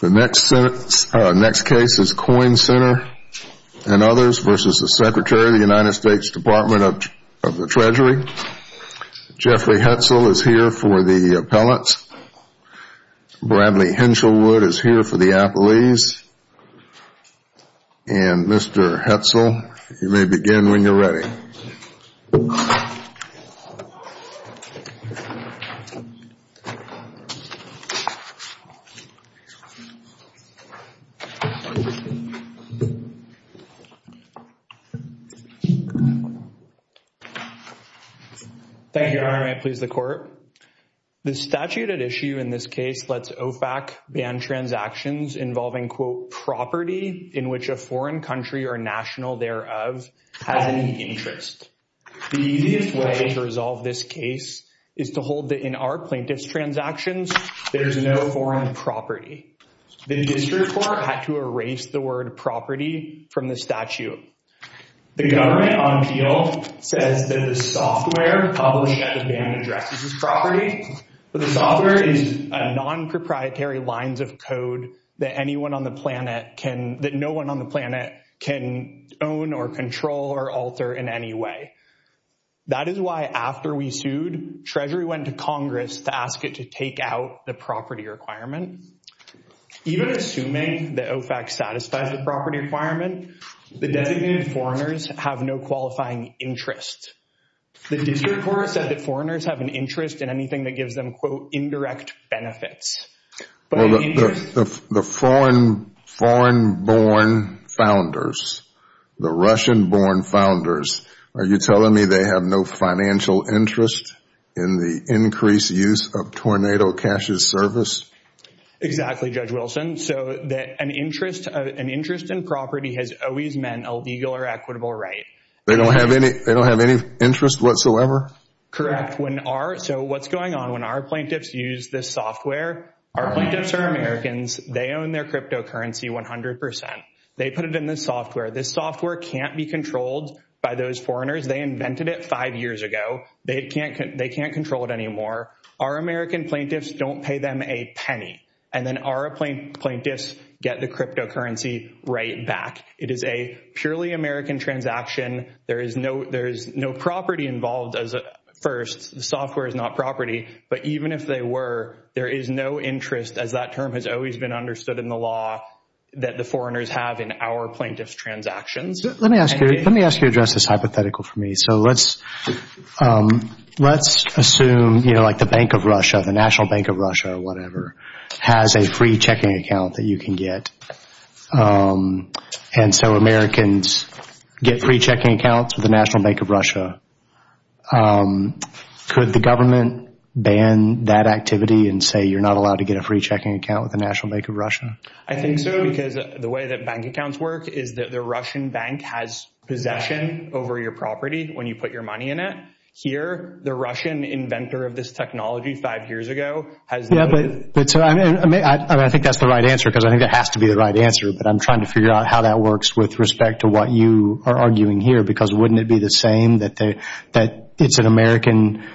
The next case is Coyne Center v. Secretary, U.S. Department of the Treasury. Jeffrey Hetzel is here for the appellants. Bradley Henshelwood is here for the appellees. And Mr. Hetzel, you may begin when you're ready. Thank you, Your Honor, and may it please the Court. The statute at issue in this case lets OFAC ban transactions involving, quote, property in which a foreign country or national thereof has any interest. The easiest way to resolve this case is to hold that in our plaintiff's transactions, there is no foreign property. The district court had to erase the word property from the statute. The government on appeal says that the software published at the ban addresses as property, but the software is a non-proprietary lines of code that anyone on the planet can own or control or alter in any way. That is why after we sued, Treasury went to Congress to ask it to take out the property requirement. Even assuming that OFAC satisfies the property requirement, the designated foreigners have no qualifying interest. The district court said that foreigners have an interest in anything that gives them, quote, indirect benefits. The foreign born founders, the Russian born founders, are you telling me they have no financial interest in the increased use of tornado cash as service? Exactly, Judge Wilson. An interest in property has always meant a legal or equitable right. They don't have any interest whatsoever? Correct. What's going on when our plaintiffs use this software? Our plaintiffs are Americans. They own their cryptocurrency 100%. They put it in the software. This software can't be controlled by those foreigners. They invented it five years ago. They can't control it anymore. Our American plaintiffs don't pay them a penny, and then our plaintiffs get the cryptocurrency right back. It is a purely American transaction. There is no property involved first. The software is not property. But even if they were, there is no interest, as that term has always been understood in the law, that the foreigners have in our plaintiffs' transactions. Let me ask you to address this hypothetical for me. So let's assume, you know, like the Bank of Russia, the National Bank of Russia or whatever, has a free checking account that you can get, and so Americans get free checking accounts with the National Bank of Russia. Could the government ban that activity and say you're not allowed to get a free checking account with the National Bank of Russia? I think so, because the way that bank accounts work is that the Russian bank has possession over your property when you put your money in it. Here, the Russian inventor of this technology five years ago has no— I think that's the right answer because I think it has to be the right answer, but I'm trying to figure out how that works with respect to what you are arguing here because wouldn't it be the same that it's an American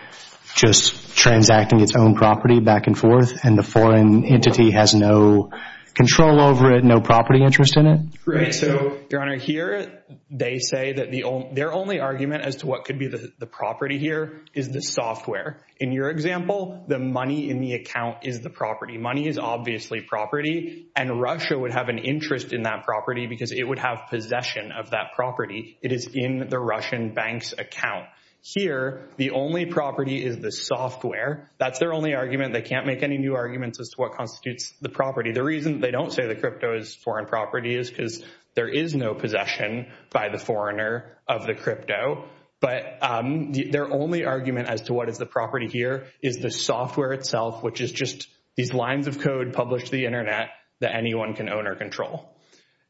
just transacting its own property back and forth and the foreign entity has no control over it, no property interest in it? Right, so, Your Honor, here they say that their only argument as to what could be the property here is the software. In your example, the money in the account is the property. Money is obviously property and Russia would have an interest in that property because it would have possession of that property. It is in the Russian bank's account. Here, the only property is the software. That's their only argument. They can't make any new arguments as to what constitutes the property. The reason they don't say the crypto is foreign property is because there is no possession by the foreigner of the crypto, but their only argument as to what is the property here is the software itself, which is just these lines of code published to the Internet that anyone can own or control.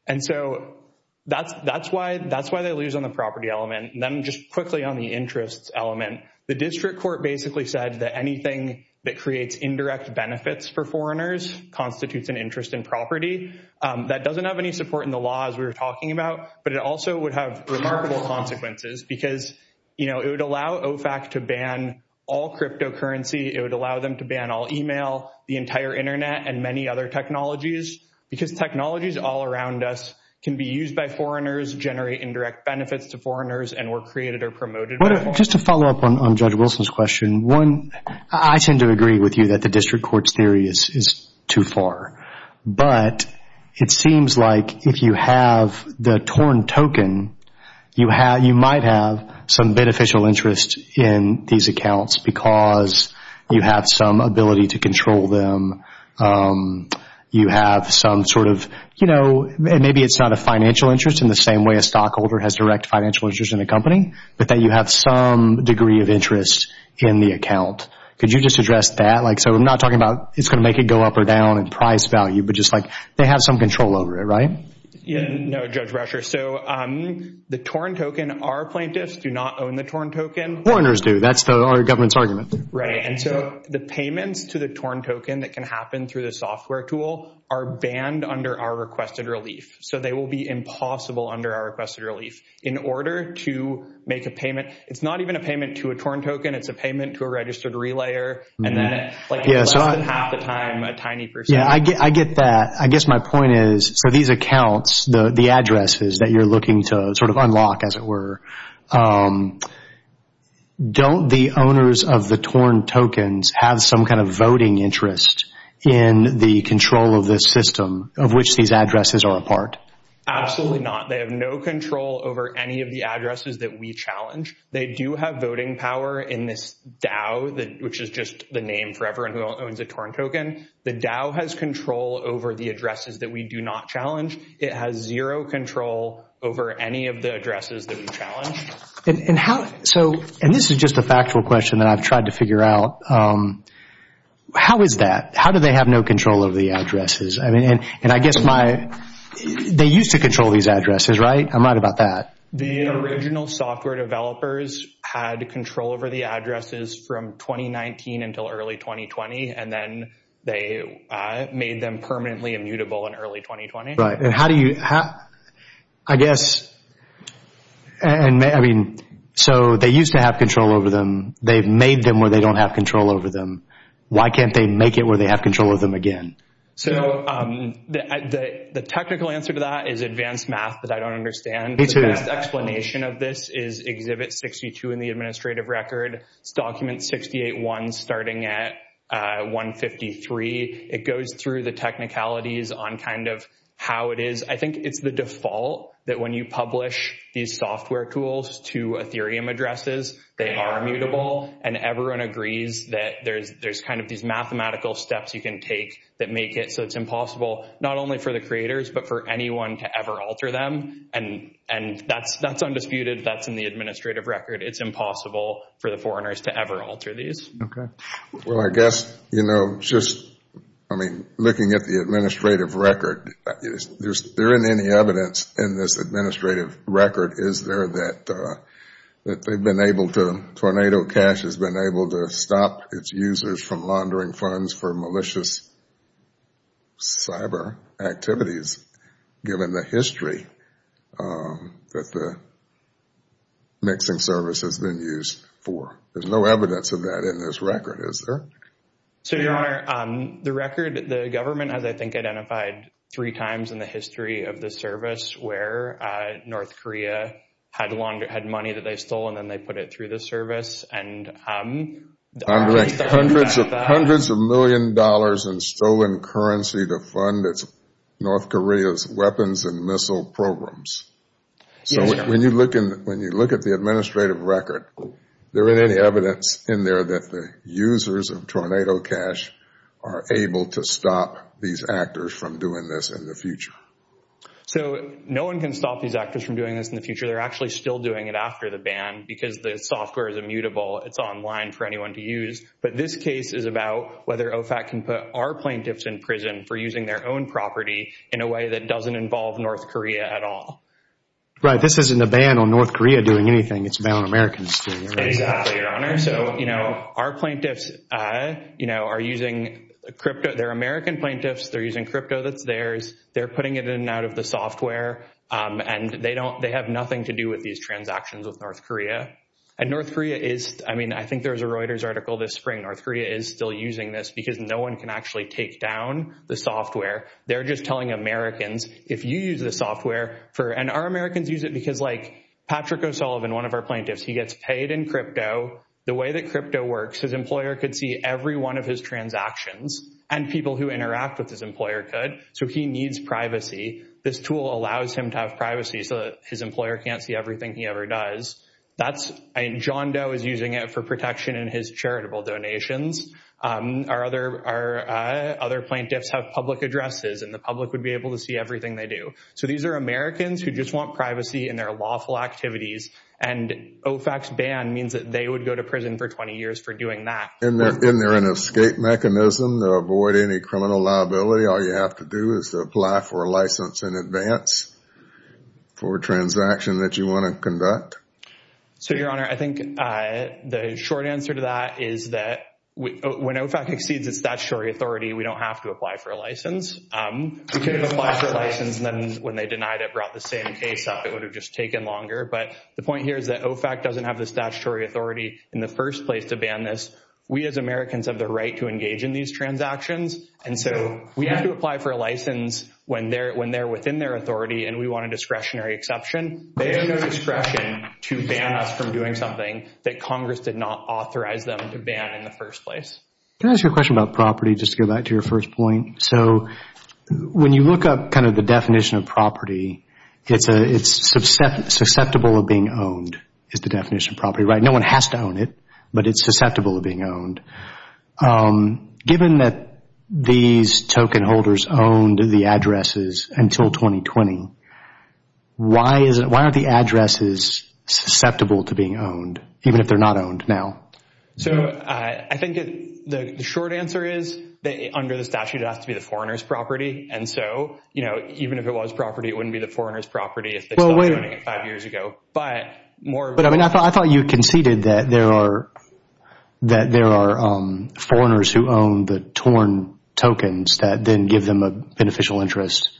And so that's why they lose on the property element. Then just quickly on the interest element, the district court basically said that anything that creates indirect benefits for foreigners constitutes an interest in property. That doesn't have any support in the law as we were talking about, but it also would have remarkable consequences because, you know, it would allow OFAC to ban all cryptocurrency. It would allow them to ban all email, the entire Internet, and many other technologies because technologies all around us can be used by foreigners, generate indirect benefits to foreigners, and were created or promoted by foreigners. Just to follow up on Judge Wilson's question, I tend to agree with you that the district court's theory is too far, but it seems like if you have the torn token, you might have some beneficial interest in these accounts because you have some ability to control them. You have some sort of, you know, maybe it's not a financial interest in the same way a stockholder has direct financial interest in a company, but that you have some degree of interest in the account. Could you just address that? Like so I'm not talking about it's going to make it go up or down in price value, but just like they have some control over it, right? No, Judge Brasher. So the torn token, our plaintiffs do not own the torn token. Foreigners do. That's our government's argument. Right. And so the payments to the torn token that can happen through the software tool are banned under our requested relief. So they will be impossible under our requested relief. In order to make a payment, it's not even a payment to a torn token. It's a payment to a registered relayer and then like less than half the time, a tiny percentage. Yeah, I get that. I guess my point is for these accounts, the addresses that you're looking to sort of unlock as it were, don't the owners of the torn tokens have some kind of voting interest in the control of this system of which these addresses are a part? Absolutely not. They have no control over any of the addresses that we challenge. They do have voting power in this DAO, which is just the name for everyone who owns a torn token. The DAO has control over the addresses that we do not challenge. It has zero control over any of the addresses that we challenge. And this is just a factual question that I've tried to figure out. How is that? How do they have no control over the addresses? And I guess they used to control these addresses, right? I'm right about that. The original software developers had control over the addresses from 2019 until early 2020, and then they made them permanently immutable in early 2020. Right. And how do you – I guess – I mean, so they used to have control over them. They've made them where they don't have control over them. Why can't they make it where they have control of them again? So the technical answer to that is advanced math that I don't understand. Me too. The best explanation of this is Exhibit 62 in the administrative record. It's Document 68-1 starting at 153. It goes through the technicalities on kind of how it is. I think it's the default that when you publish these software tools to Ethereum addresses, they are immutable, and everyone agrees that there's kind of these mathematical steps you can take that make it so it's impossible not only for the creators but for anyone to ever alter them. And that's undisputed. That's in the administrative record. It's impossible for the foreigners to ever alter these. Okay. Well, I guess, you know, just – I mean, looking at the administrative record, there isn't any evidence in this administrative record, is there, that they've been able to – Tornado Cash has been able to stop its users from laundering funds for malicious cyber activities, given the history that the mixing service has been used for. There's no evidence of that in this record, is there? So, Your Honor, the record, the government has, I think, identified three times in the history of the service where North Korea had money that they stole and then they put it through the service. Hundreds of million dollars in stolen currency to fund North Korea's weapons and missile programs. So when you look at the administrative record, there isn't any evidence in there that the users of Tornado Cash are able to stop these actors from doing this in the future. So no one can stop these actors from doing this in the future. They're actually still doing it after the ban because the software is immutable. It's online for anyone to use. But this case is about whether OFAC can put our plaintiffs in prison for using their own property in a way that doesn't involve North Korea at all. Right. This isn't a ban on North Korea doing anything. It's a ban on Americans doing anything. Exactly, Your Honor. So, you know, our plaintiffs, you know, are using crypto. They're American plaintiffs. They're using crypto that's theirs. They're putting it in and out of the software, and they have nothing to do with these transactions with North Korea. And North Korea is, I mean, I think there was a Reuters article this spring. North Korea is still using this because no one can actually take down the software. They're just telling Americans, if you use the software for, and our Americans use it because, like, Patrick O'Sullivan, one of our plaintiffs, he gets paid in crypto. The way that crypto works, his employer could see every one of his transactions, and people who interact with his employer could. So he needs privacy. This tool allows him to have privacy so that his employer can't see everything he ever does. John Doe is using it for protection in his charitable donations. Our other plaintiffs have public addresses, and the public would be able to see everything they do. So these are Americans who just want privacy in their lawful activities, and OFAC's ban means that they would go to prison for 20 years for doing that. Isn't there an escape mechanism to avoid any criminal liability? All you have to do is to apply for a license in advance for a transaction that you want to conduct? So, Your Honor, I think the short answer to that is that when OFAC exceeds its statutory authority, we don't have to apply for a license. We could have applied for a license, and then when they denied it, brought the same case up. It would have just taken longer. But the point here is that OFAC doesn't have the statutory authority in the first place to ban this. We as Americans have the right to engage in these transactions, and so we have to apply for a license when they're within their authority, and we want a discretionary exception. They have no discretion to ban us from doing something that Congress did not authorize them to ban in the first place. Can I ask you a question about property, just to go back to your first point? So, when you look up kind of the definition of property, it's susceptible of being owned, is the definition of property, right? No one has to own it, but it's susceptible of being owned. Given that these token holders owned the addresses until 2020, why aren't the addresses susceptible to being owned, even if they're not owned now? So, I think the short answer is that under the statute, it has to be the foreigner's property. And so, you know, even if it was property, it wouldn't be the foreigner's property if they stopped owning it five years ago. But more— But, I mean, I thought you conceded that there are foreigners who own the torn tokens that then give them a beneficial interest.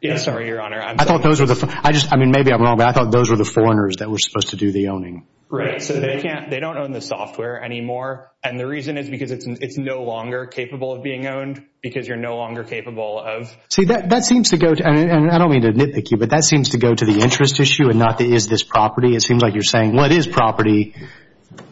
Yeah, sorry, Your Honor. I thought those were the—I just—I mean, maybe I'm wrong, but I thought those were the foreigners that were supposed to do the owning. Right, so they can't—they don't own the software anymore. And the reason is because it's no longer capable of being owned because you're no longer capable of— See, that seems to go to—and I don't mean to nitpick you, but that seems to go to the interest issue and not the is this property. It seems like you're saying, well, it is property,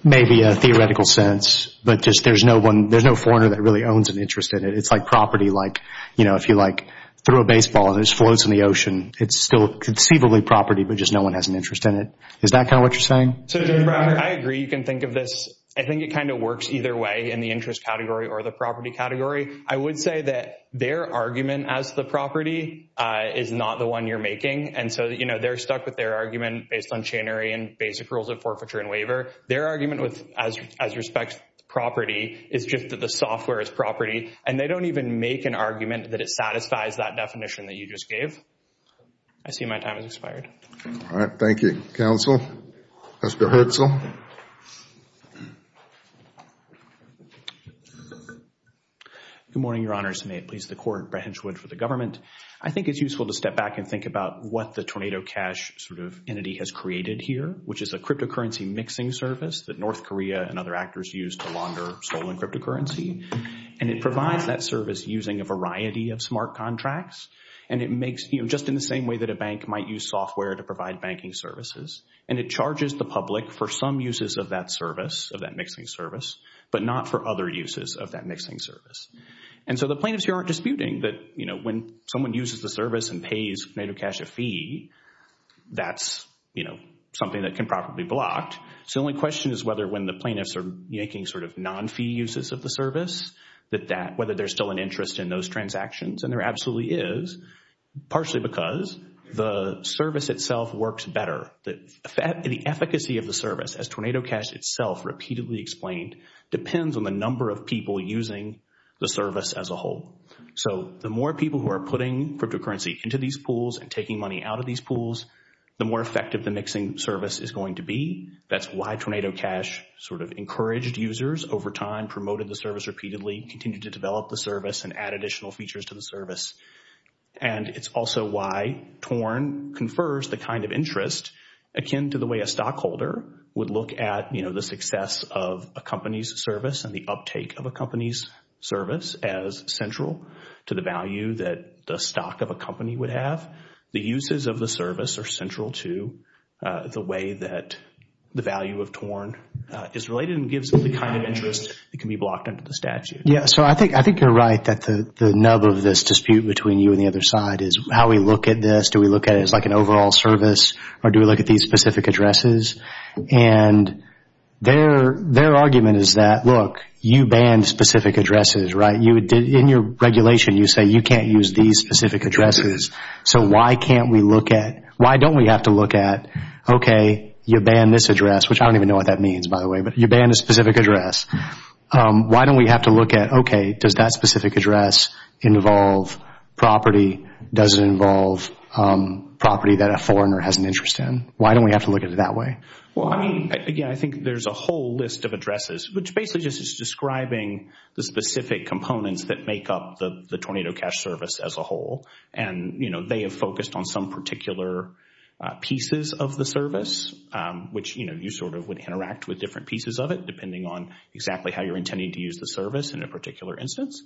maybe a theoretical sense, but just there's no one—there's no foreigner that really owns an interest in it. It's like property, like, you know, if you, like, throw a baseball and it just floats in the ocean, it's still conceivably property, but just no one has an interest in it. Is that kind of what you're saying? So, Judge Breyer, I agree you can think of this— I think it kind of works either way in the interest category or the property category. I would say that their argument as the property is not the one you're making. And so, you know, they're stuck with their argument based on channery and basic rules of forfeiture and waiver. Their argument with—as respect to property is just that the software is property. And they don't even make an argument that it satisfies that definition that you just gave. I see my time has expired. All right, thank you. Counsel, Mr. Herzl? Good morning, Your Honors. May it please the Court, Brett Hinchwood for the government. I think it's useful to step back and think about what the Tornado Cash sort of entity has created here, which is a cryptocurrency mixing service that North Korea and other actors use to launder stolen cryptocurrency. And it provides that service using a variety of smart contracts. And it makes—you know, just in the same way that a bank might use software to provide banking services. And it charges the public for some uses of that service, of that mixing service, but not for other uses of that mixing service. And so the plaintiffs here aren't disputing that, you know, when someone uses the service and pays Tornado Cash a fee, that's, you know, something that can probably be blocked. So the only question is whether when the plaintiffs are making sort of non-fee uses of the service, that that—whether there's still an interest in those transactions. And there absolutely is, partially because the service itself works better. The efficacy of the service, as Tornado Cash itself repeatedly explained, depends on the number of people using the service as a whole. So the more people who are putting cryptocurrency into these pools and taking money out of these pools, the more effective the mixing service is going to be. That's why Tornado Cash sort of encouraged users over time, promoted the service repeatedly, continued to develop the service, and add additional features to the service. And it's also why Torn confers the kind of interest akin to the way a stockholder would look at, you know, the success of a company's service and the uptake of a company's service as central to the value that the stock of a company would have. The uses of the service are central to the way that the value of Torn is related and gives them the kind of interest that can be blocked under the statute. Yeah, so I think you're right that the nub of this dispute between you and the other side is how we look at this. Do we look at it as like an overall service, or do we look at these specific addresses? And their argument is that, look, you banned specific addresses, right? In your regulation, you say you can't use these specific addresses. So why can't we look at—why don't we have to look at, okay, you banned this address, which I don't even know what that means, by the way, but you banned a specific address. Why don't we have to look at, okay, does that specific address involve property? Does it involve property that a foreigner has an interest in? Why don't we have to look at it that way? Well, I mean, again, I think there's a whole list of addresses, which basically just is describing the specific components that make up the Tornado Cash service as a whole. And, you know, they have focused on some particular pieces of the service, which, you know, you sort of would interact with different pieces of it, depending on exactly how you're intending to use the service in a particular instance.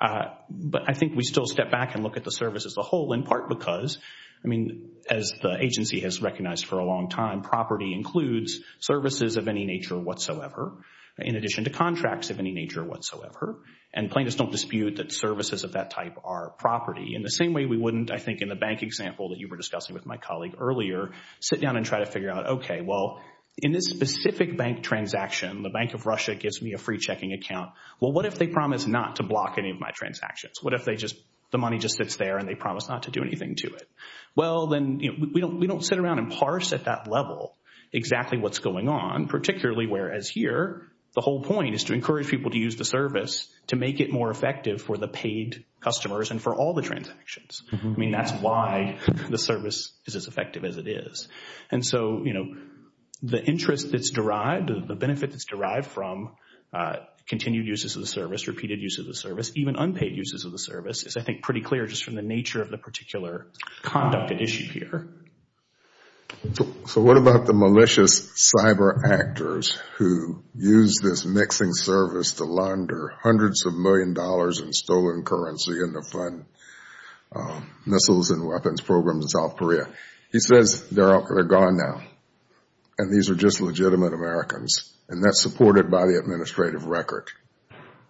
But I think we still step back and look at the service as a whole, in part because, I mean, as the agency has recognized for a long time, property includes services of any nature whatsoever, in addition to contracts of any nature whatsoever. And plaintiffs don't dispute that services of that type are property. In the same way we wouldn't, I think, in the bank example that you were discussing with my colleague earlier, sit down and try to figure out, okay, well, in this specific bank transaction, the Bank of Russia gives me a free checking account. Well, what if they promise not to block any of my transactions? What if the money just sits there and they promise not to do anything to it? Well, then we don't sit around and parse at that level exactly what's going on, particularly whereas here the whole point is to encourage people to use the service to make it more effective for the paid customers and for all the transactions. I mean, that's why the service is as effective as it is. And so, you know, the interest that's derived, the benefit that's derived from continued uses of the service, repeated uses of the service, even unpaid uses of the service, is I think pretty clear just from the nature of the particular conduct at issue here. So what about the malicious cyber actors who use this mixing service to launder hundreds of million dollars in stolen currency and to fund missiles and weapons programs in South Korea? He says they're gone now, and these are just legitimate Americans, and that's supported by the administrative record.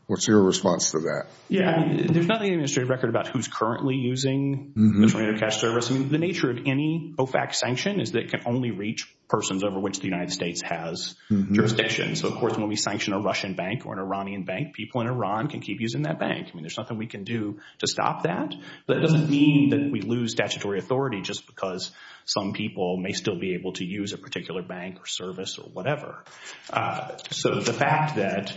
What's your response to that? Yeah, I mean, there's nothing in the administrative record about who's currently using the Tornado Cash Service. I mean, the nature of any OFAC sanction is that it can only reach persons over which the United States has jurisdiction. So, of course, when we sanction a Russian bank or an Iranian bank, people in Iran can keep using that bank. I mean, there's nothing we can do to stop that. But it doesn't mean that we lose statutory authority just because some people may still be able to use a particular bank or service or whatever. So the fact that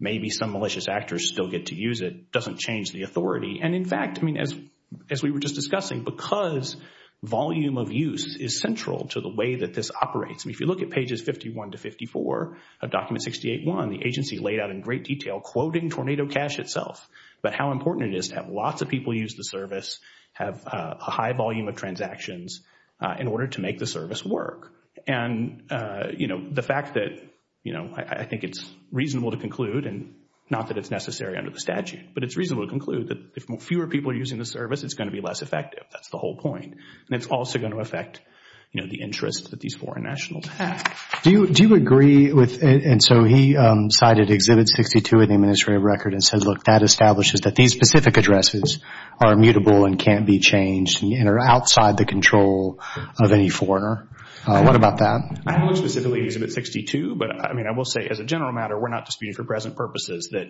maybe some malicious actors still get to use it doesn't change the authority. And, in fact, I mean, as we were just discussing, because volume of use is central to the way that this operates, I mean, if you look at pages 51 to 54 of Document 68-1, the agency laid out in great detail, quoting Tornado Cash itself, about how important it is to have lots of people use the service, have a high volume of transactions in order to make the service work. And, you know, the fact that, you know, I think it's reasonable to conclude, and not that it's necessary under the statute, but it's reasonable to conclude that if fewer people are using the service, it's going to be less effective. That's the whole point. And it's also going to affect, you know, the interests that these foreign nationals have. Do you agree with, and so he cited Exhibit 62 in the administrative record and says, look, that establishes that these specific addresses are immutable and can't be changed and are outside the control of any foreigner. What about that? I haven't looked specifically at Exhibit 62, but, I mean, I will say as a general matter, we're not disputing for present purposes that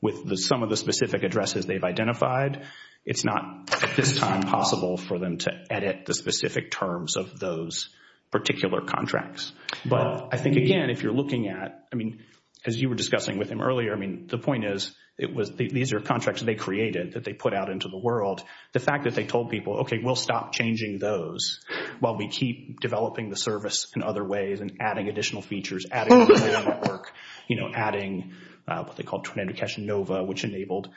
with some of the specific addresses they've identified, it's not at this time possible for them to edit the specific terms of those particular contracts. But I think, again, if you're looking at, I mean, as you were discussing with him earlier, I mean, the point is these are contracts they created that they put out into the world. The fact that they told people, okay, we'll stop changing those while we keep developing the service in other ways and adding additional features, adding a new network, you know, adding what they called Tornado Cash Nova, which enabled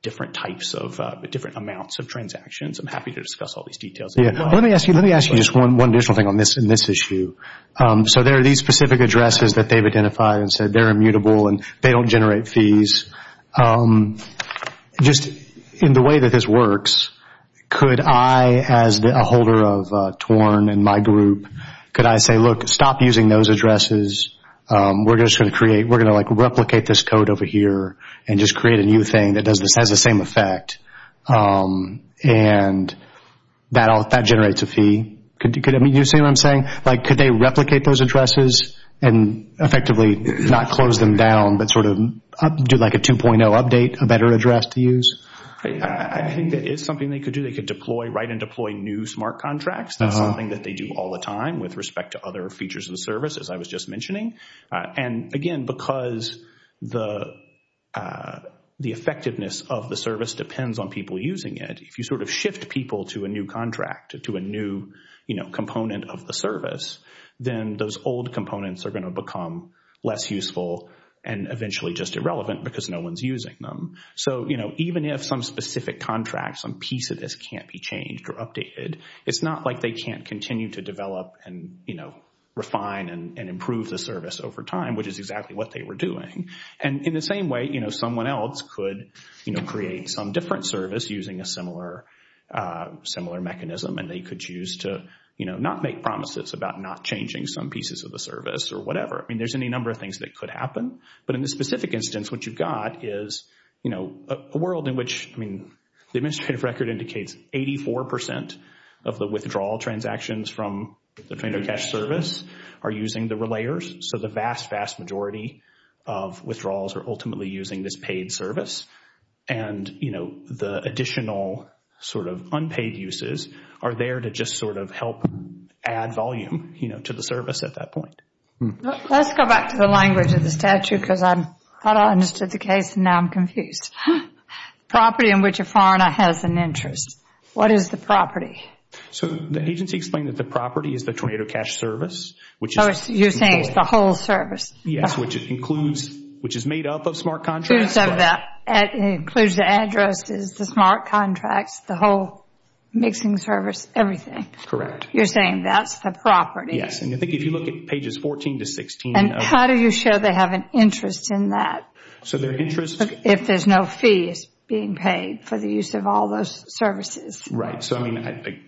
different types of different amounts of transactions. I'm happy to discuss all these details. Let me ask you just one additional thing on this issue. So there are these specific addresses that they've identified and said they're immutable and they don't generate fees. Just in the way that this works, could I, as a holder of TORN and my group, could I say, look, stop using those addresses. We're just going to create, we're going to, like, replicate this code over here and just create a new thing that has the same effect. And that generates a fee. You see what I'm saying? Like, could they replicate those addresses and effectively not close them down but sort of do, like, a 2.0 update, a better address to use? I think that is something they could do. They could deploy, write and deploy new smart contracts. That's something that they do all the time with respect to other features of the service, as I was just mentioning. And, again, because the effectiveness of the service depends on people using it, if you sort of shift people to a new contract, to a new, you know, component of the service, then those old components are going to become less useful and eventually just irrelevant because no one's using them. So, you know, even if some specific contract, some piece of this can't be changed or updated, it's not like they can't continue to develop and, you know, refine and improve the service over time, which is exactly what they were doing. And in the same way, you know, someone else could, you know, create some different service using a similar mechanism and they could choose to, you know, not make promises about not changing some pieces of the service or whatever. I mean, there's any number of things that could happen. But in this specific instance, what you've got is, you know, a world in which, I mean, the administrative record indicates 84% of the withdrawal transactions from the train-of-cash service are using the relayers. So the vast, vast majority of withdrawals are ultimately using this paid service. And, you know, the additional sort of unpaid uses are there to just sort of help add volume, you know, to the service at that point. Let's go back to the language of the statute because I thought I understood the case and now I'm confused. Property in which a foreigner has an interest. What is the property? So the agency explained that the property is the tornado cash service, which is— So you're saying it's the whole service. Yes, which it includes, which is made up of smart contracts. It includes the addresses, the smart contracts, the whole mixing service, everything. Correct. You're saying that's the property. Yes, and I think if you look at pages 14 to 16— And how do you show they have an interest in that? So their interest— If there's no fees being paid for the use of all those services. Right. So, I mean,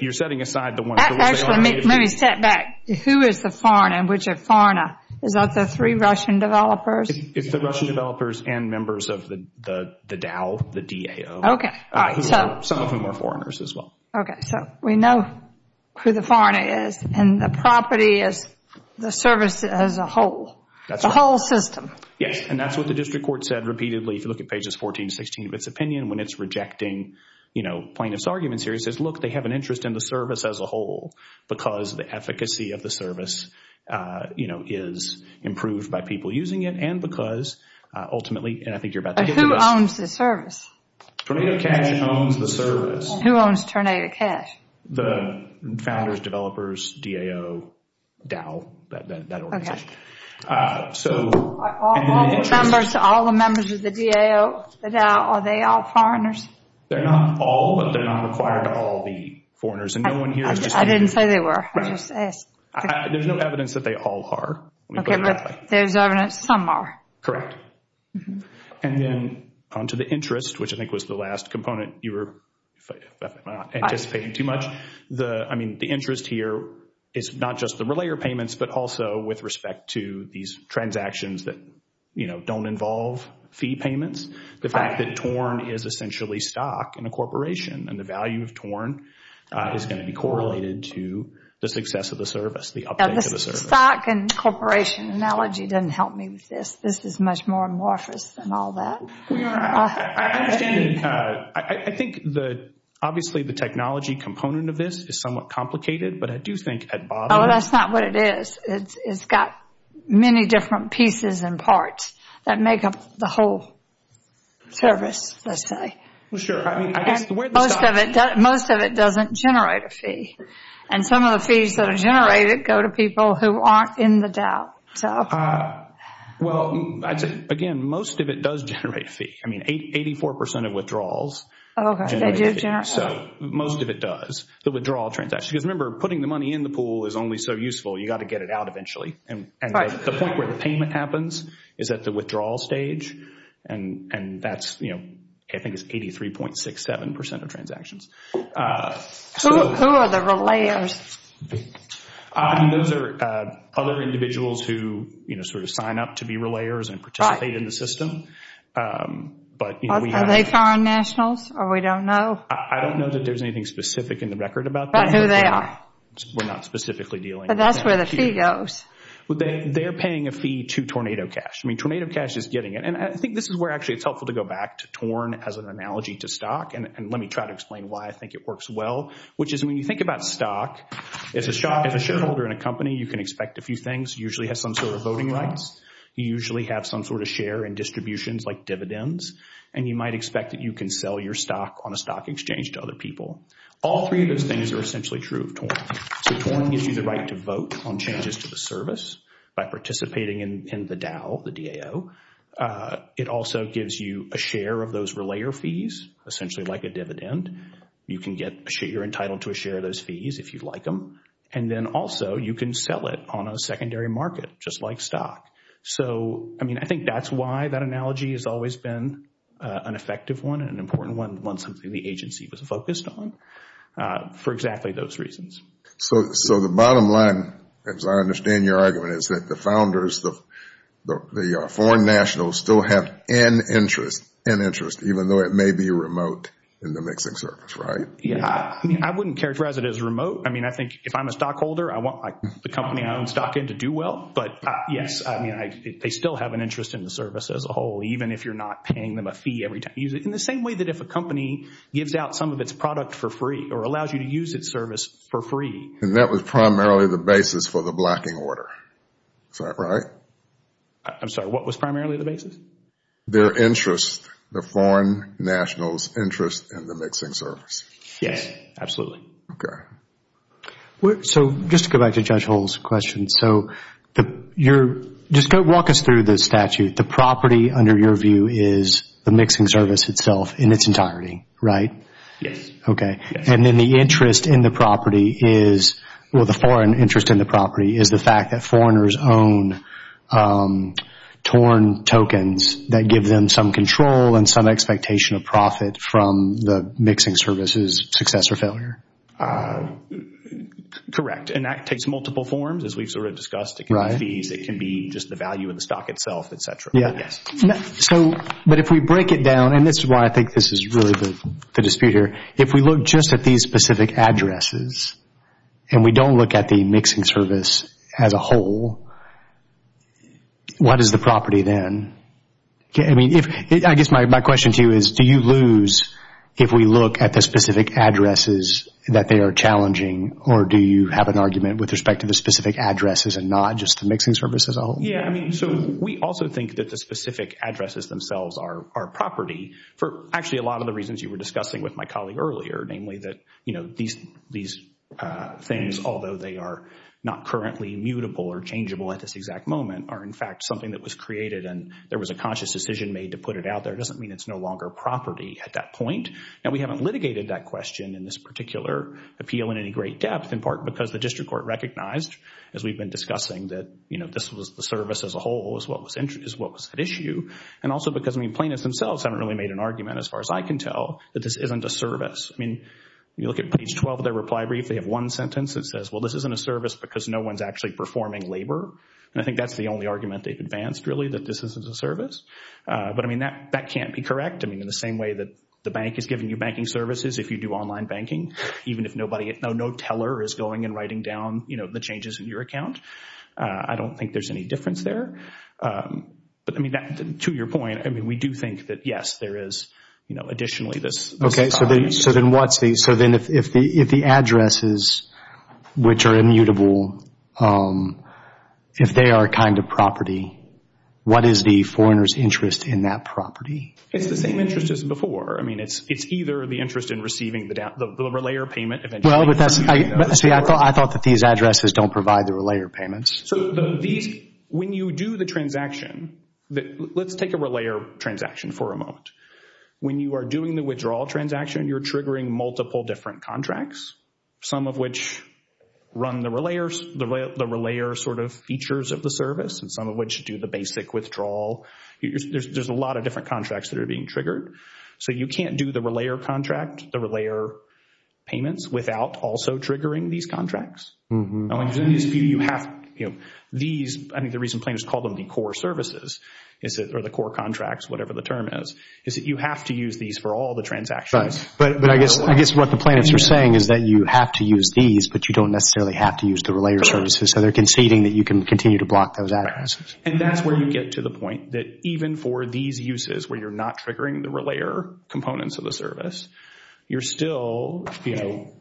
you're setting aside the ones— Actually, let me step back. Who is the foreigner? Which foreigner? Is that the three Russian developers? It's the Russian developers and members of the DAO, the D-A-O. Okay. Some of them are foreigners as well. Okay. So we know who the foreigner is, and the property is the service as a whole. That's right. The whole system. Yes, and that's what the district court said repeatedly. If you look at pages 14 to 16 of its opinion, when it's rejecting, you know, plaintiff's arguments here, it says, look, they have an interest in the service as a whole because the efficacy of the service, you know, is improved by people using it and because ultimately—and I think you're about to get to this. But who owns the service? Tornado cash owns the service. Who owns Tornado Cash? The founders, developers, DAO, DAO, that organization. So— All the members of the DAO, the DAO, are they all foreigners? They're not all, but they're not required to all be foreigners. And no one here is just— I didn't say they were. I just asked. There's no evidence that they all are. Okay, but there's evidence some are. Correct. And then on to the interest, which I think was the last component you were anticipating too much. The—I mean, the interest here is not just the relayer payments, but also with respect to these transactions that, you know, don't involve fee payments. The fact that TORN is essentially stock in a corporation and the value of TORN is going to be correlated to the success of the service, the uptake of the service. The stock and corporation analogy doesn't help me with this. This is much more amorphous than all that. I understand. I think the—obviously the technology component of this is somewhat complicated, but I do think at bottom— Oh, that's not what it is. It's got many different pieces and parts that make up the whole service, let's say. Well, sure. I mean, I guess the way the stock— Most of it doesn't generate a fee. And some of the fees that are generated go to people who aren't in the DAO. Well, again, most of it does generate a fee. I mean, 84% of withdrawals generate a fee. So most of it does, the withdrawal transactions. Because remember, putting the money in the pool is only so useful. You've got to get it out eventually. And the point where the payment happens is at the withdrawal stage, and that's, you know, I think it's 83.67% of transactions. Who are the relayers? I mean, those are other individuals who, you know, sort of sign up to be relayers and participate in the system. But, you know, we— Are they foreign nationals or we don't know? I don't know that there's anything specific in the record about that. But who they are? We're not specifically dealing— But that's where the fee goes. They're paying a fee to Tornado Cash. I mean, Tornado Cash is getting it. And I think this is where actually it's helpful to go back to TORN as an analogy to stock. And let me try to explain why I think it works well, which is when you think about stock, as a shareholder in a company, you can expect a few things. You usually have some sort of voting rights. You usually have some sort of share in distributions like dividends. And you might expect that you can sell your stock on a stock exchange to other people. All three of those things are essentially true of TORN. So TORN gives you the right to vote on changes to the service by participating in the DAO, the D-A-O. It also gives you a share of those relayer fees, essentially like a dividend. You can get—you're entitled to a share of those fees if you like them. And then also you can sell it on a secondary market just like stock. So, I mean, I think that's why that analogy has always been an effective one and an important one, one something the agency was focused on for exactly those reasons. So the bottom line, as I understand your argument, is that the founders, the foreign nationals still have an interest, even though it may be remote in the mixing service, right? Yeah. I mean, I wouldn't characterize it as remote. I mean, I think if I'm a stockholder, I want the company I own stock in to do well. But, yes, I mean, they still have an interest in the service as a whole, even if you're not paying them a fee every time you use it, in the same way that if a company gives out some of its product for free or allows you to use its service for free. And that was primarily the basis for the blacking order. Is that right? I'm sorry, what was primarily the basis? Their interest, the foreign nationals' interest in the mixing service. Yes, absolutely. Okay. So, just to go back to Judge Hull's question. So, just walk us through the statute. The property, under your view, is the mixing service itself in its entirety, right? Yes. Okay. And then the interest in the property is, well, the foreign interest in the property, is the fact that foreigners own torn tokens that give them some control and some expectation of profit from the mixing service's success or failure. Correct. And that takes multiple forms, as we've sort of discussed. It can be fees. It can be just the value of the stock itself, et cetera. Yes. So, but if we break it down, and this is why I think this is really the dispute here, if we look just at these specific addresses and we don't look at the mixing service as a whole, what is the property then? I guess my question to you is, do you lose if we look at the specific addresses that they are challenging, or do you have an argument with respect to the specific addresses and not just the mixing service as a whole? Yes. So, we also think that the specific addresses themselves are property, for actually a lot of the reasons you were discussing with my colleague earlier, namely that these things, although they are not currently mutable or changeable at this exact moment, are in fact something that was created and there was a conscious decision made to put it out there. It doesn't mean it's no longer property at that point. Now, we haven't litigated that question in this particular appeal in any great depth, in part because the district court recognized, as we've been discussing, that this was the service as a whole is what was at issue, and also because plaintiffs themselves haven't really made an argument, as far as I can tell, that this isn't a service. I mean, you look at page 12 of their reply brief, they have one sentence that says, well, this isn't a service because no one's actually performing labor, and I think that's the only argument they've advanced, really, that this isn't a service. But, I mean, that can't be correct. I mean, in the same way that the bank is giving you banking services if you do online banking, even if no teller is going and writing down the changes in your account, I don't think there's any difference there. But, I mean, to your point, I mean, we do think that, yes, there is, you know, additionally this. Okay, so then what's the, so then if the addresses, which are immutable, if they are a kind of property, what is the foreigner's interest in that property? It's the same interest as before. I mean, it's either the interest in receiving the relayer payment. Well, but that's, see, I thought that these addresses don't provide the relayer payments. So these, when you do the transaction, let's take a relayer transaction for a moment. When you are doing the withdrawal transaction, you're triggering multiple different contracts, some of which run the relayer sort of features of the service, and some of which do the basic withdrawal. There's a lot of different contracts that are being triggered. So you can't do the relayer contract, the relayer payments, without also triggering these contracts. And when you do these, you have, you know, these, I think the reason planners call them the core services, or the core contracts, whatever the term is, is that you have to use these for all the transactions. Right, but I guess what the planners are saying is that you have to use these, but you don't necessarily have to use the relayer services. So they're conceding that you can continue to block those addresses. And that's where you get to the point that even for these uses, where you're not triggering the relayer components of the service, you're still, you know,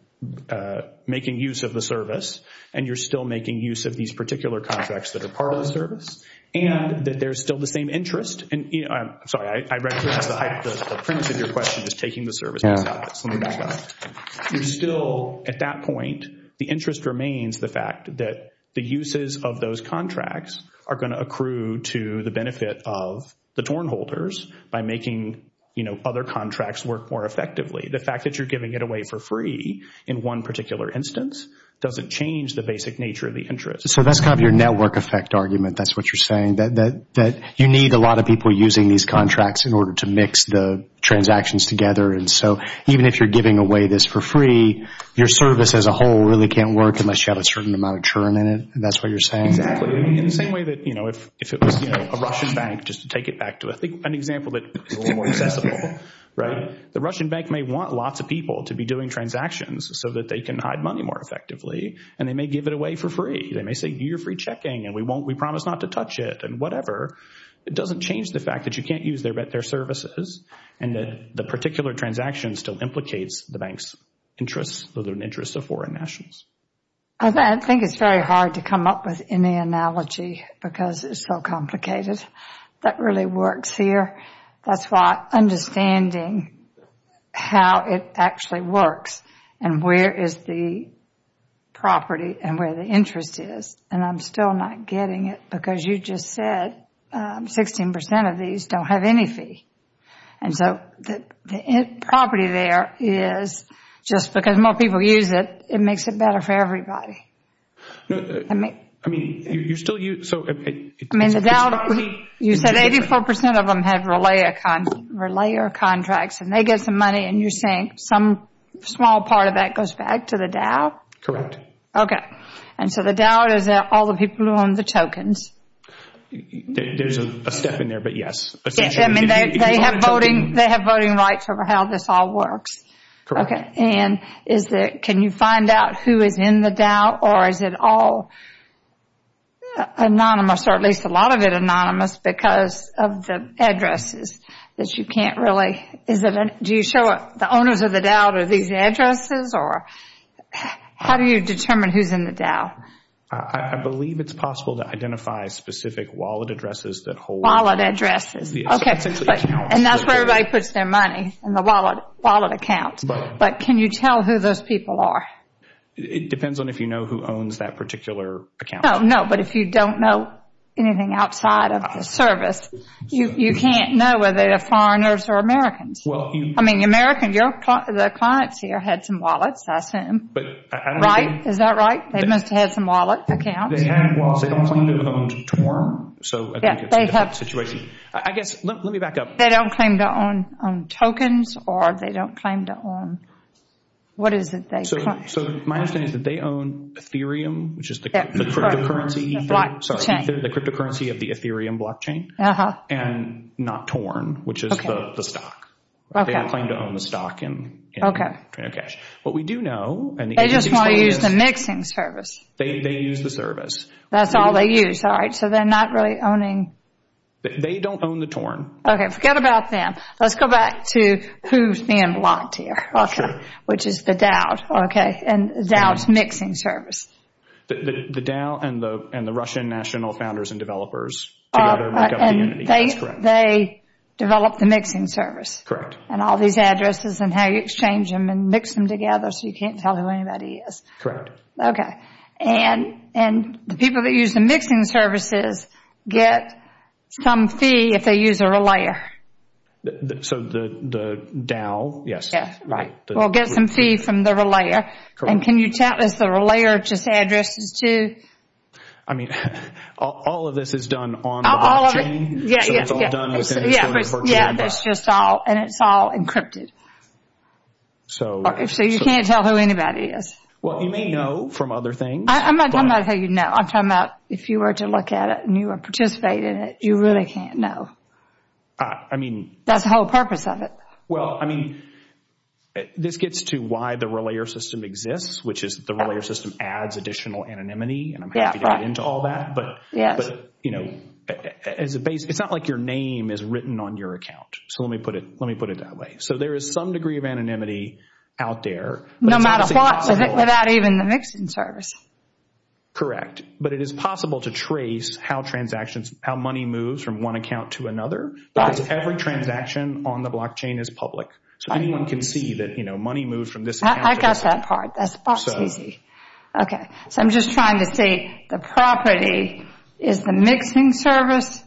making use of the service, and you're still making use of these particular contracts that are part of the service, and that there's still the same interest. And I'm sorry, I recognize the height of the premise of your question, just taking the service and stopping it. So let me back up. You're still, at that point, the interest remains the fact that the uses of those contracts are going to accrue to the benefit of the torn holders by making, you know, other contracts work more effectively. The fact that you're giving it away for free in one particular instance doesn't change the basic nature of the interest. So that's kind of your network effect argument. That's what you're saying, that you need a lot of people using these contracts in order to mix the transactions together. And so even if you're giving away this for free, your service as a whole really can't work unless you have a certain amount of churn in it. That's what you're saying? Exactly. In the same way that, you know, if it was, you know, a Russian bank, just to take it back to an example that is a little more accessible, right? The Russian bank may want lots of people to be doing transactions so that they can hide money more effectively, and they may give it away for free. They may say, you're free checking, and we promise not to touch it, and whatever. It doesn't change the fact that you can't use their services and that the particular transaction still implicates the bank's interest with an interest of foreign nations. I think it's very hard to come up with any analogy because it's so complicated. That really works here. That's why understanding how it actually works and where is the property and where the interest is, and I'm still not getting it because you just said 16% of these don't have any fee. And so the property there is just because more people use it, it makes it better for everybody. I mean, you're still using it. I mean, the Dow, you said 84% of them had relay contracts, and they get some money and you're saying some small part of that goes back to the Dow? Correct. Okay. And so the Dow is all the people who own the tokens. There's a step in there, but yes. I mean, they have voting rights over how this all works. Correct. Can you find out who is in the Dow or is it all anonymous or at least a lot of it anonymous because of the addresses that you can't really? Do you show the owners of the Dow these addresses or how do you determine who's in the Dow? I believe it's possible to identify specific wallet addresses that hold. Wallet addresses. And that's where everybody puts their money, in the wallet accounts. But can you tell who those people are? It depends on if you know who owns that particular account. No, but if you don't know anything outside of the service, you can't know whether they're foreigners or Americans. I mean, Americans, the clients here had some wallets, I assume. Right? Is that right? They must have had some wallet accounts. They had wallets. They don't claim to have owned TORN, so I think it's a different situation. I guess, let me back up. They don't claim to own tokens or they don't claim to own, what is it? So my understanding is that they own Ethereum, which is the cryptocurrency. The blockchain. Sorry, the cryptocurrency of the Ethereum blockchain and not TORN, which is the stock. They don't claim to own the stock in Trinocash. What we do know, and the agency explains this. They just want to use the mixing service. They use the service. That's all they use. All right. So they're not really owning. They don't own the TORN. Okay. Forget about them. Let's go back to who's being blocked here. Okay. Which is the DAO. Okay. And the DAO's mixing service. The DAO and the Russian National Founders and Developers together make up the unit. That's correct. And they develop the mixing service. Correct. And all these addresses and how you exchange them and mix them together so you can't tell who anybody is. Correct. Okay. And the people that use the mixing services get some fee if they use a relayer. So the DAO. Right. Well, get some fee from the relayer. Correct. And can you tell us the relayer just addresses to? I mean, all of this is done on the blockchain. All of it. Yeah, yeah. So it's all done within the blockchain. Yeah, that's just all. And it's all encrypted. So. So you can't tell who anybody is. Well, you may know from other things. I'm not talking about how you know. I'm talking about if you were to look at it and you were to participate in it, you really can't know. I mean. That's the whole purpose of it. Well, I mean, this gets to why the relayer system exists, which is the relayer system adds additional anonymity. And I'm happy to get into all that. But, you know, it's not like your name is written on your account. So let me put it that way. So there is some degree of anonymity out there. No matter what, without even the mixing service. Correct. But it is possible to trace how transactions, how money moves from one account to another. Because every transaction on the blockchain is public. So anyone can see that, you know, money moves from this account. I got that part. That's easy. Okay. So I'm just trying to say the property is the mixing service,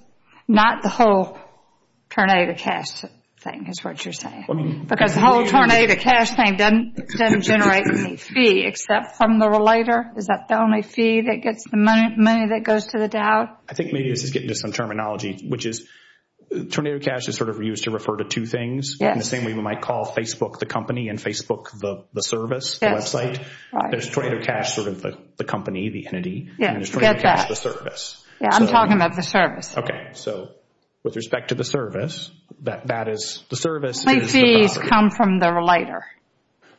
not the whole tornado cash thing is what you're saying. Because the whole tornado cash thing doesn't generate any fee except from the relayer. Is that the only fee that gets the money that goes to the DAO? I think maybe this is getting to some terminology, which is tornado cash is sort of used to refer to two things. Yes. In the same way we might call Facebook the company and Facebook the service, There's tornado cash sort of the company, the entity. And there's tornado cash the service. Yeah, I'm talking about the service. Okay. So with respect to the service, that is the service. The only fees come from the relayer.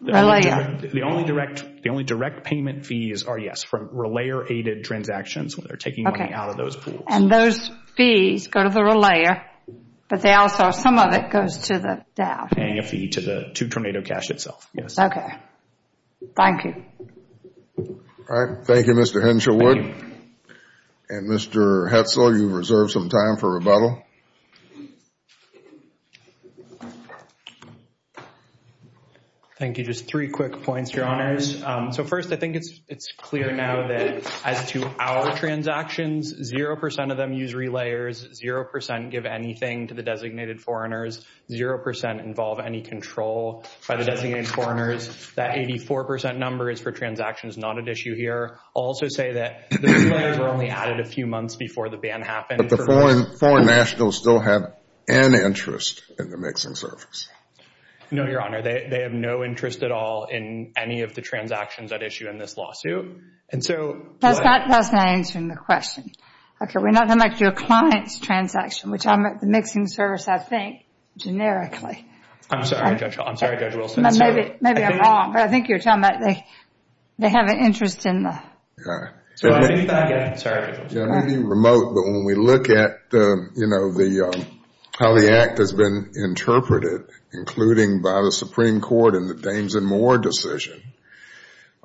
The only direct payment fees are, yes, from relayer-aided transactions when they're taking money out of those pools. And those fees go to the relayer, but they also, some of it goes to the DAO. Paying a fee to the tornado cash itself, yes. Okay. Thank you. All right. Thank you, Mr. Hensherwood. And Mr. Hetzel, you've reserved some time for rebuttal. Thank you. Just three quick points, Your Honors. So first, I think it's clear now that as to our transactions, 0% of them use relayers, 0% give anything to the designated foreigners, 0% involve any control by the designated foreigners. That 84% number is for transactions not at issue here. I'll also say that the relayers were only added a few months before the ban happened. But the foreign nationals still have an interest in the mixing service. No, Your Honor. They have no interest at all in any of the transactions at issue in this lawsuit. That's not answering the question. Okay, we're not talking about your client's transaction, which I'm at the mixing service, I think, generically. I'm sorry, Judge Wilson. Maybe I'm wrong, but I think you're talking about they have an interest in the... I'm sorry. I may be remote, but when we look at how the Act has been interpreted, including by the Supreme Court in the Dames and Moore decision,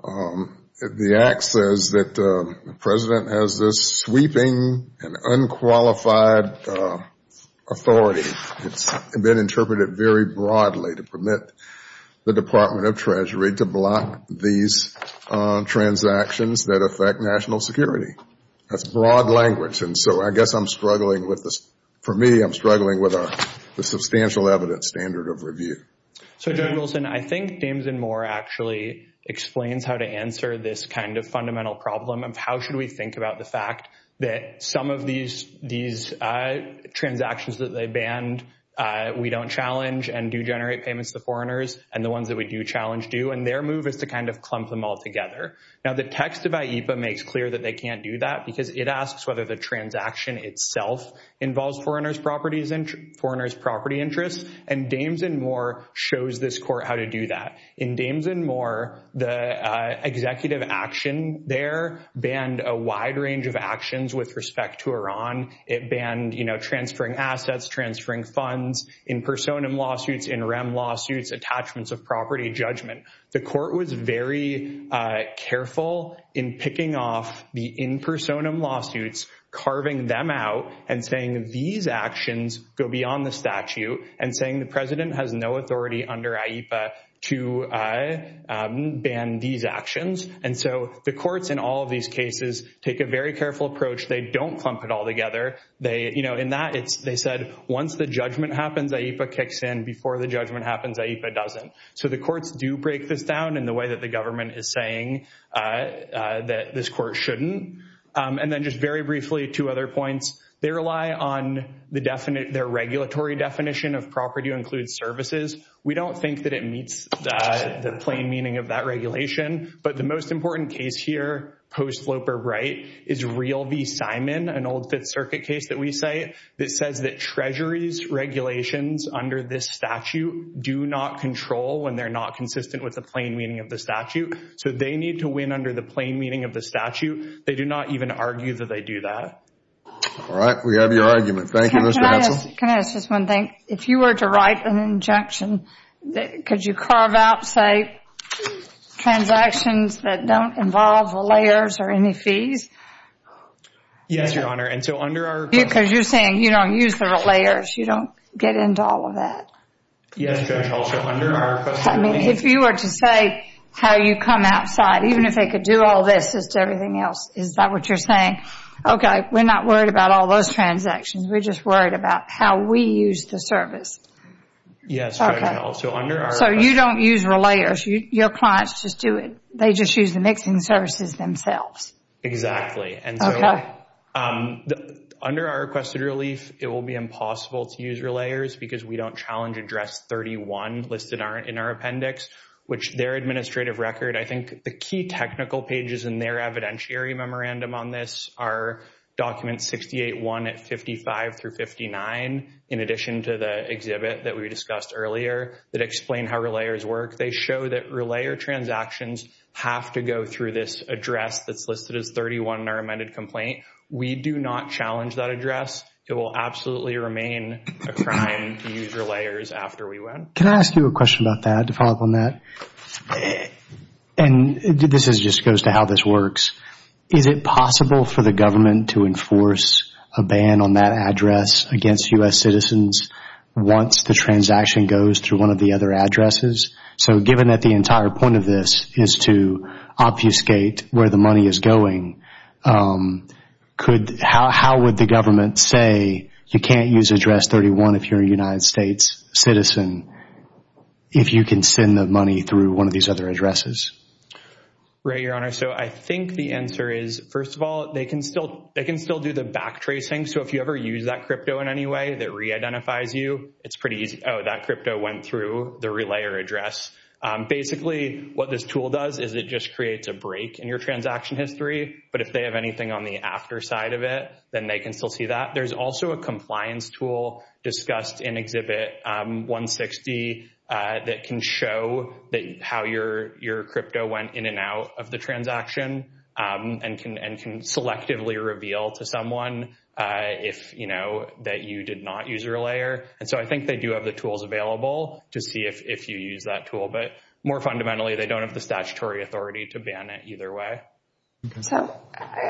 the Act says that the President has this sweeping and unqualified authority. It's been interpreted very broadly to permit the Department of Treasury to block these transactions that affect national security. That's broad language. And so I guess I'm struggling with this. For me, I'm struggling with the substantial evidence standard of review. So, Judge Wilson, I think Dames and Moore actually explains how to answer this kind of fundamental problem of how should we think about the fact that some of these transactions that they banned, we don't challenge and do generate payments to the foreigners, and the ones that we do challenge do, and their move is to kind of clump them all together. Now, the text of AIPA makes clear that they can't do that because it asks whether the transaction itself involves foreigners' property interests, and Dames and Moore shows this court how to do that. In Dames and Moore, the executive action there banned a wide range of actions with respect to Iran. It banned transferring assets, transferring funds. In personam lawsuits, in rem lawsuits, attachments of property, judgment. The court was very careful in picking off the in personam lawsuits, carving them out and saying these actions go beyond the statute and saying the president has no authority under AIPA to ban these actions. And so the courts in all of these cases take a very careful approach. They don't clump it all together. In that, they said once the judgment happens, AIPA kicks in. Before the judgment happens, AIPA doesn't. So the courts do break this down in the way that the government is saying that this court shouldn't. And then just very briefly, two other points. They rely on their regulatory definition of property includes services. We don't think that it meets the plain meaning of that regulation, but the most important case here, post-Loper Wright, is Real v. Simon, an old Fifth Circuit case that we cite, that says that Treasury's regulations under this statute do not control when they're not consistent with the plain meaning of the statute. So they need to win under the plain meaning of the statute. They do not even argue that they do that. All right. We have your argument. Thank you, Mr. Hansel. Can I ask just one thing? If you were to write an injection, could you carve out, say, transactions that don't involve relayers or any fees? Yes, Your Honor. Because you're saying you don't use the relayers. You don't get into all of that. Yes, Judge Hall. If you were to say how you come outside, even if they could do all this, just everything else, is that what you're saying? Okay, we're not worried about all those transactions. We're just worried about how we use the service. Yes, Judge Hall. So you don't use relayers. Your clients just do it. They just use the mixing services themselves. Exactly. Okay. Under our requested relief, it will be impossible to use relayers because we don't challenge Address 31 listed in our appendix, which their administrative record, I think the key technical pages in their evidentiary memorandum on this are Document 68-1 at 55 through 59, in addition to the exhibit that we discussed earlier that explained how relayers work. They show that relayer transactions have to go through this address that's listed as 31 in our amended complaint. We do not challenge that address. It will absolutely remain a crime to use relayers after we win. Can I ask you a question about that to follow up on that? And this just goes to how this works. Is it possible for the government to enforce a ban on that address against U.S. citizens once the transaction goes through one of the other addresses? So given that the entire point of this is to obfuscate where the money is going, how would the government say you can't use Address 31 if you're a United States citizen if you can send the money through one of these other addresses? Right, Your Honor. So I think the answer is, first of all, they can still do the backtracing. So if you ever use that crypto in any way that reidentifies you, it's pretty easy, oh, that crypto went through the relayer address. Basically what this tool does is it just creates a break in your transaction history, but if they have anything on the after side of it, then they can still see that. There's also a compliance tool discussed in Exhibit 160 that can show how your crypto went in and out of the transaction and can selectively reveal to someone that you did not use a relayer. And so I think they do have the tools available to see if you use that tool. But more fundamentally, they don't have the statutory authority to ban it either way. So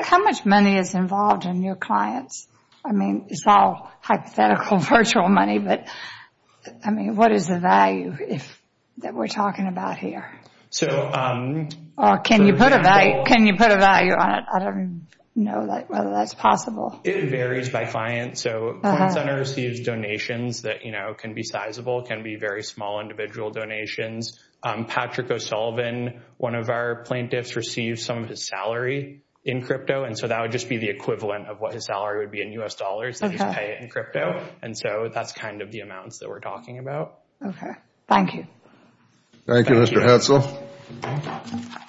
how much money is involved in your clients? I mean, it's all hypothetical virtual money, but, I mean, what is the value that we're talking about here? Can you put a value on it? I don't know whether that's possible. It varies by client. So Coin Center receives donations that can be sizable, can be very small individual donations. Patrick O'Sullivan, one of our plaintiffs, received some of his salary in crypto, and so that would just be the equivalent of what his salary would be in U.S. dollars. They just pay it in crypto. And so that's kind of the amounts that we're talking about. Okay. Thank you. Thank you, Mr. Hetzel.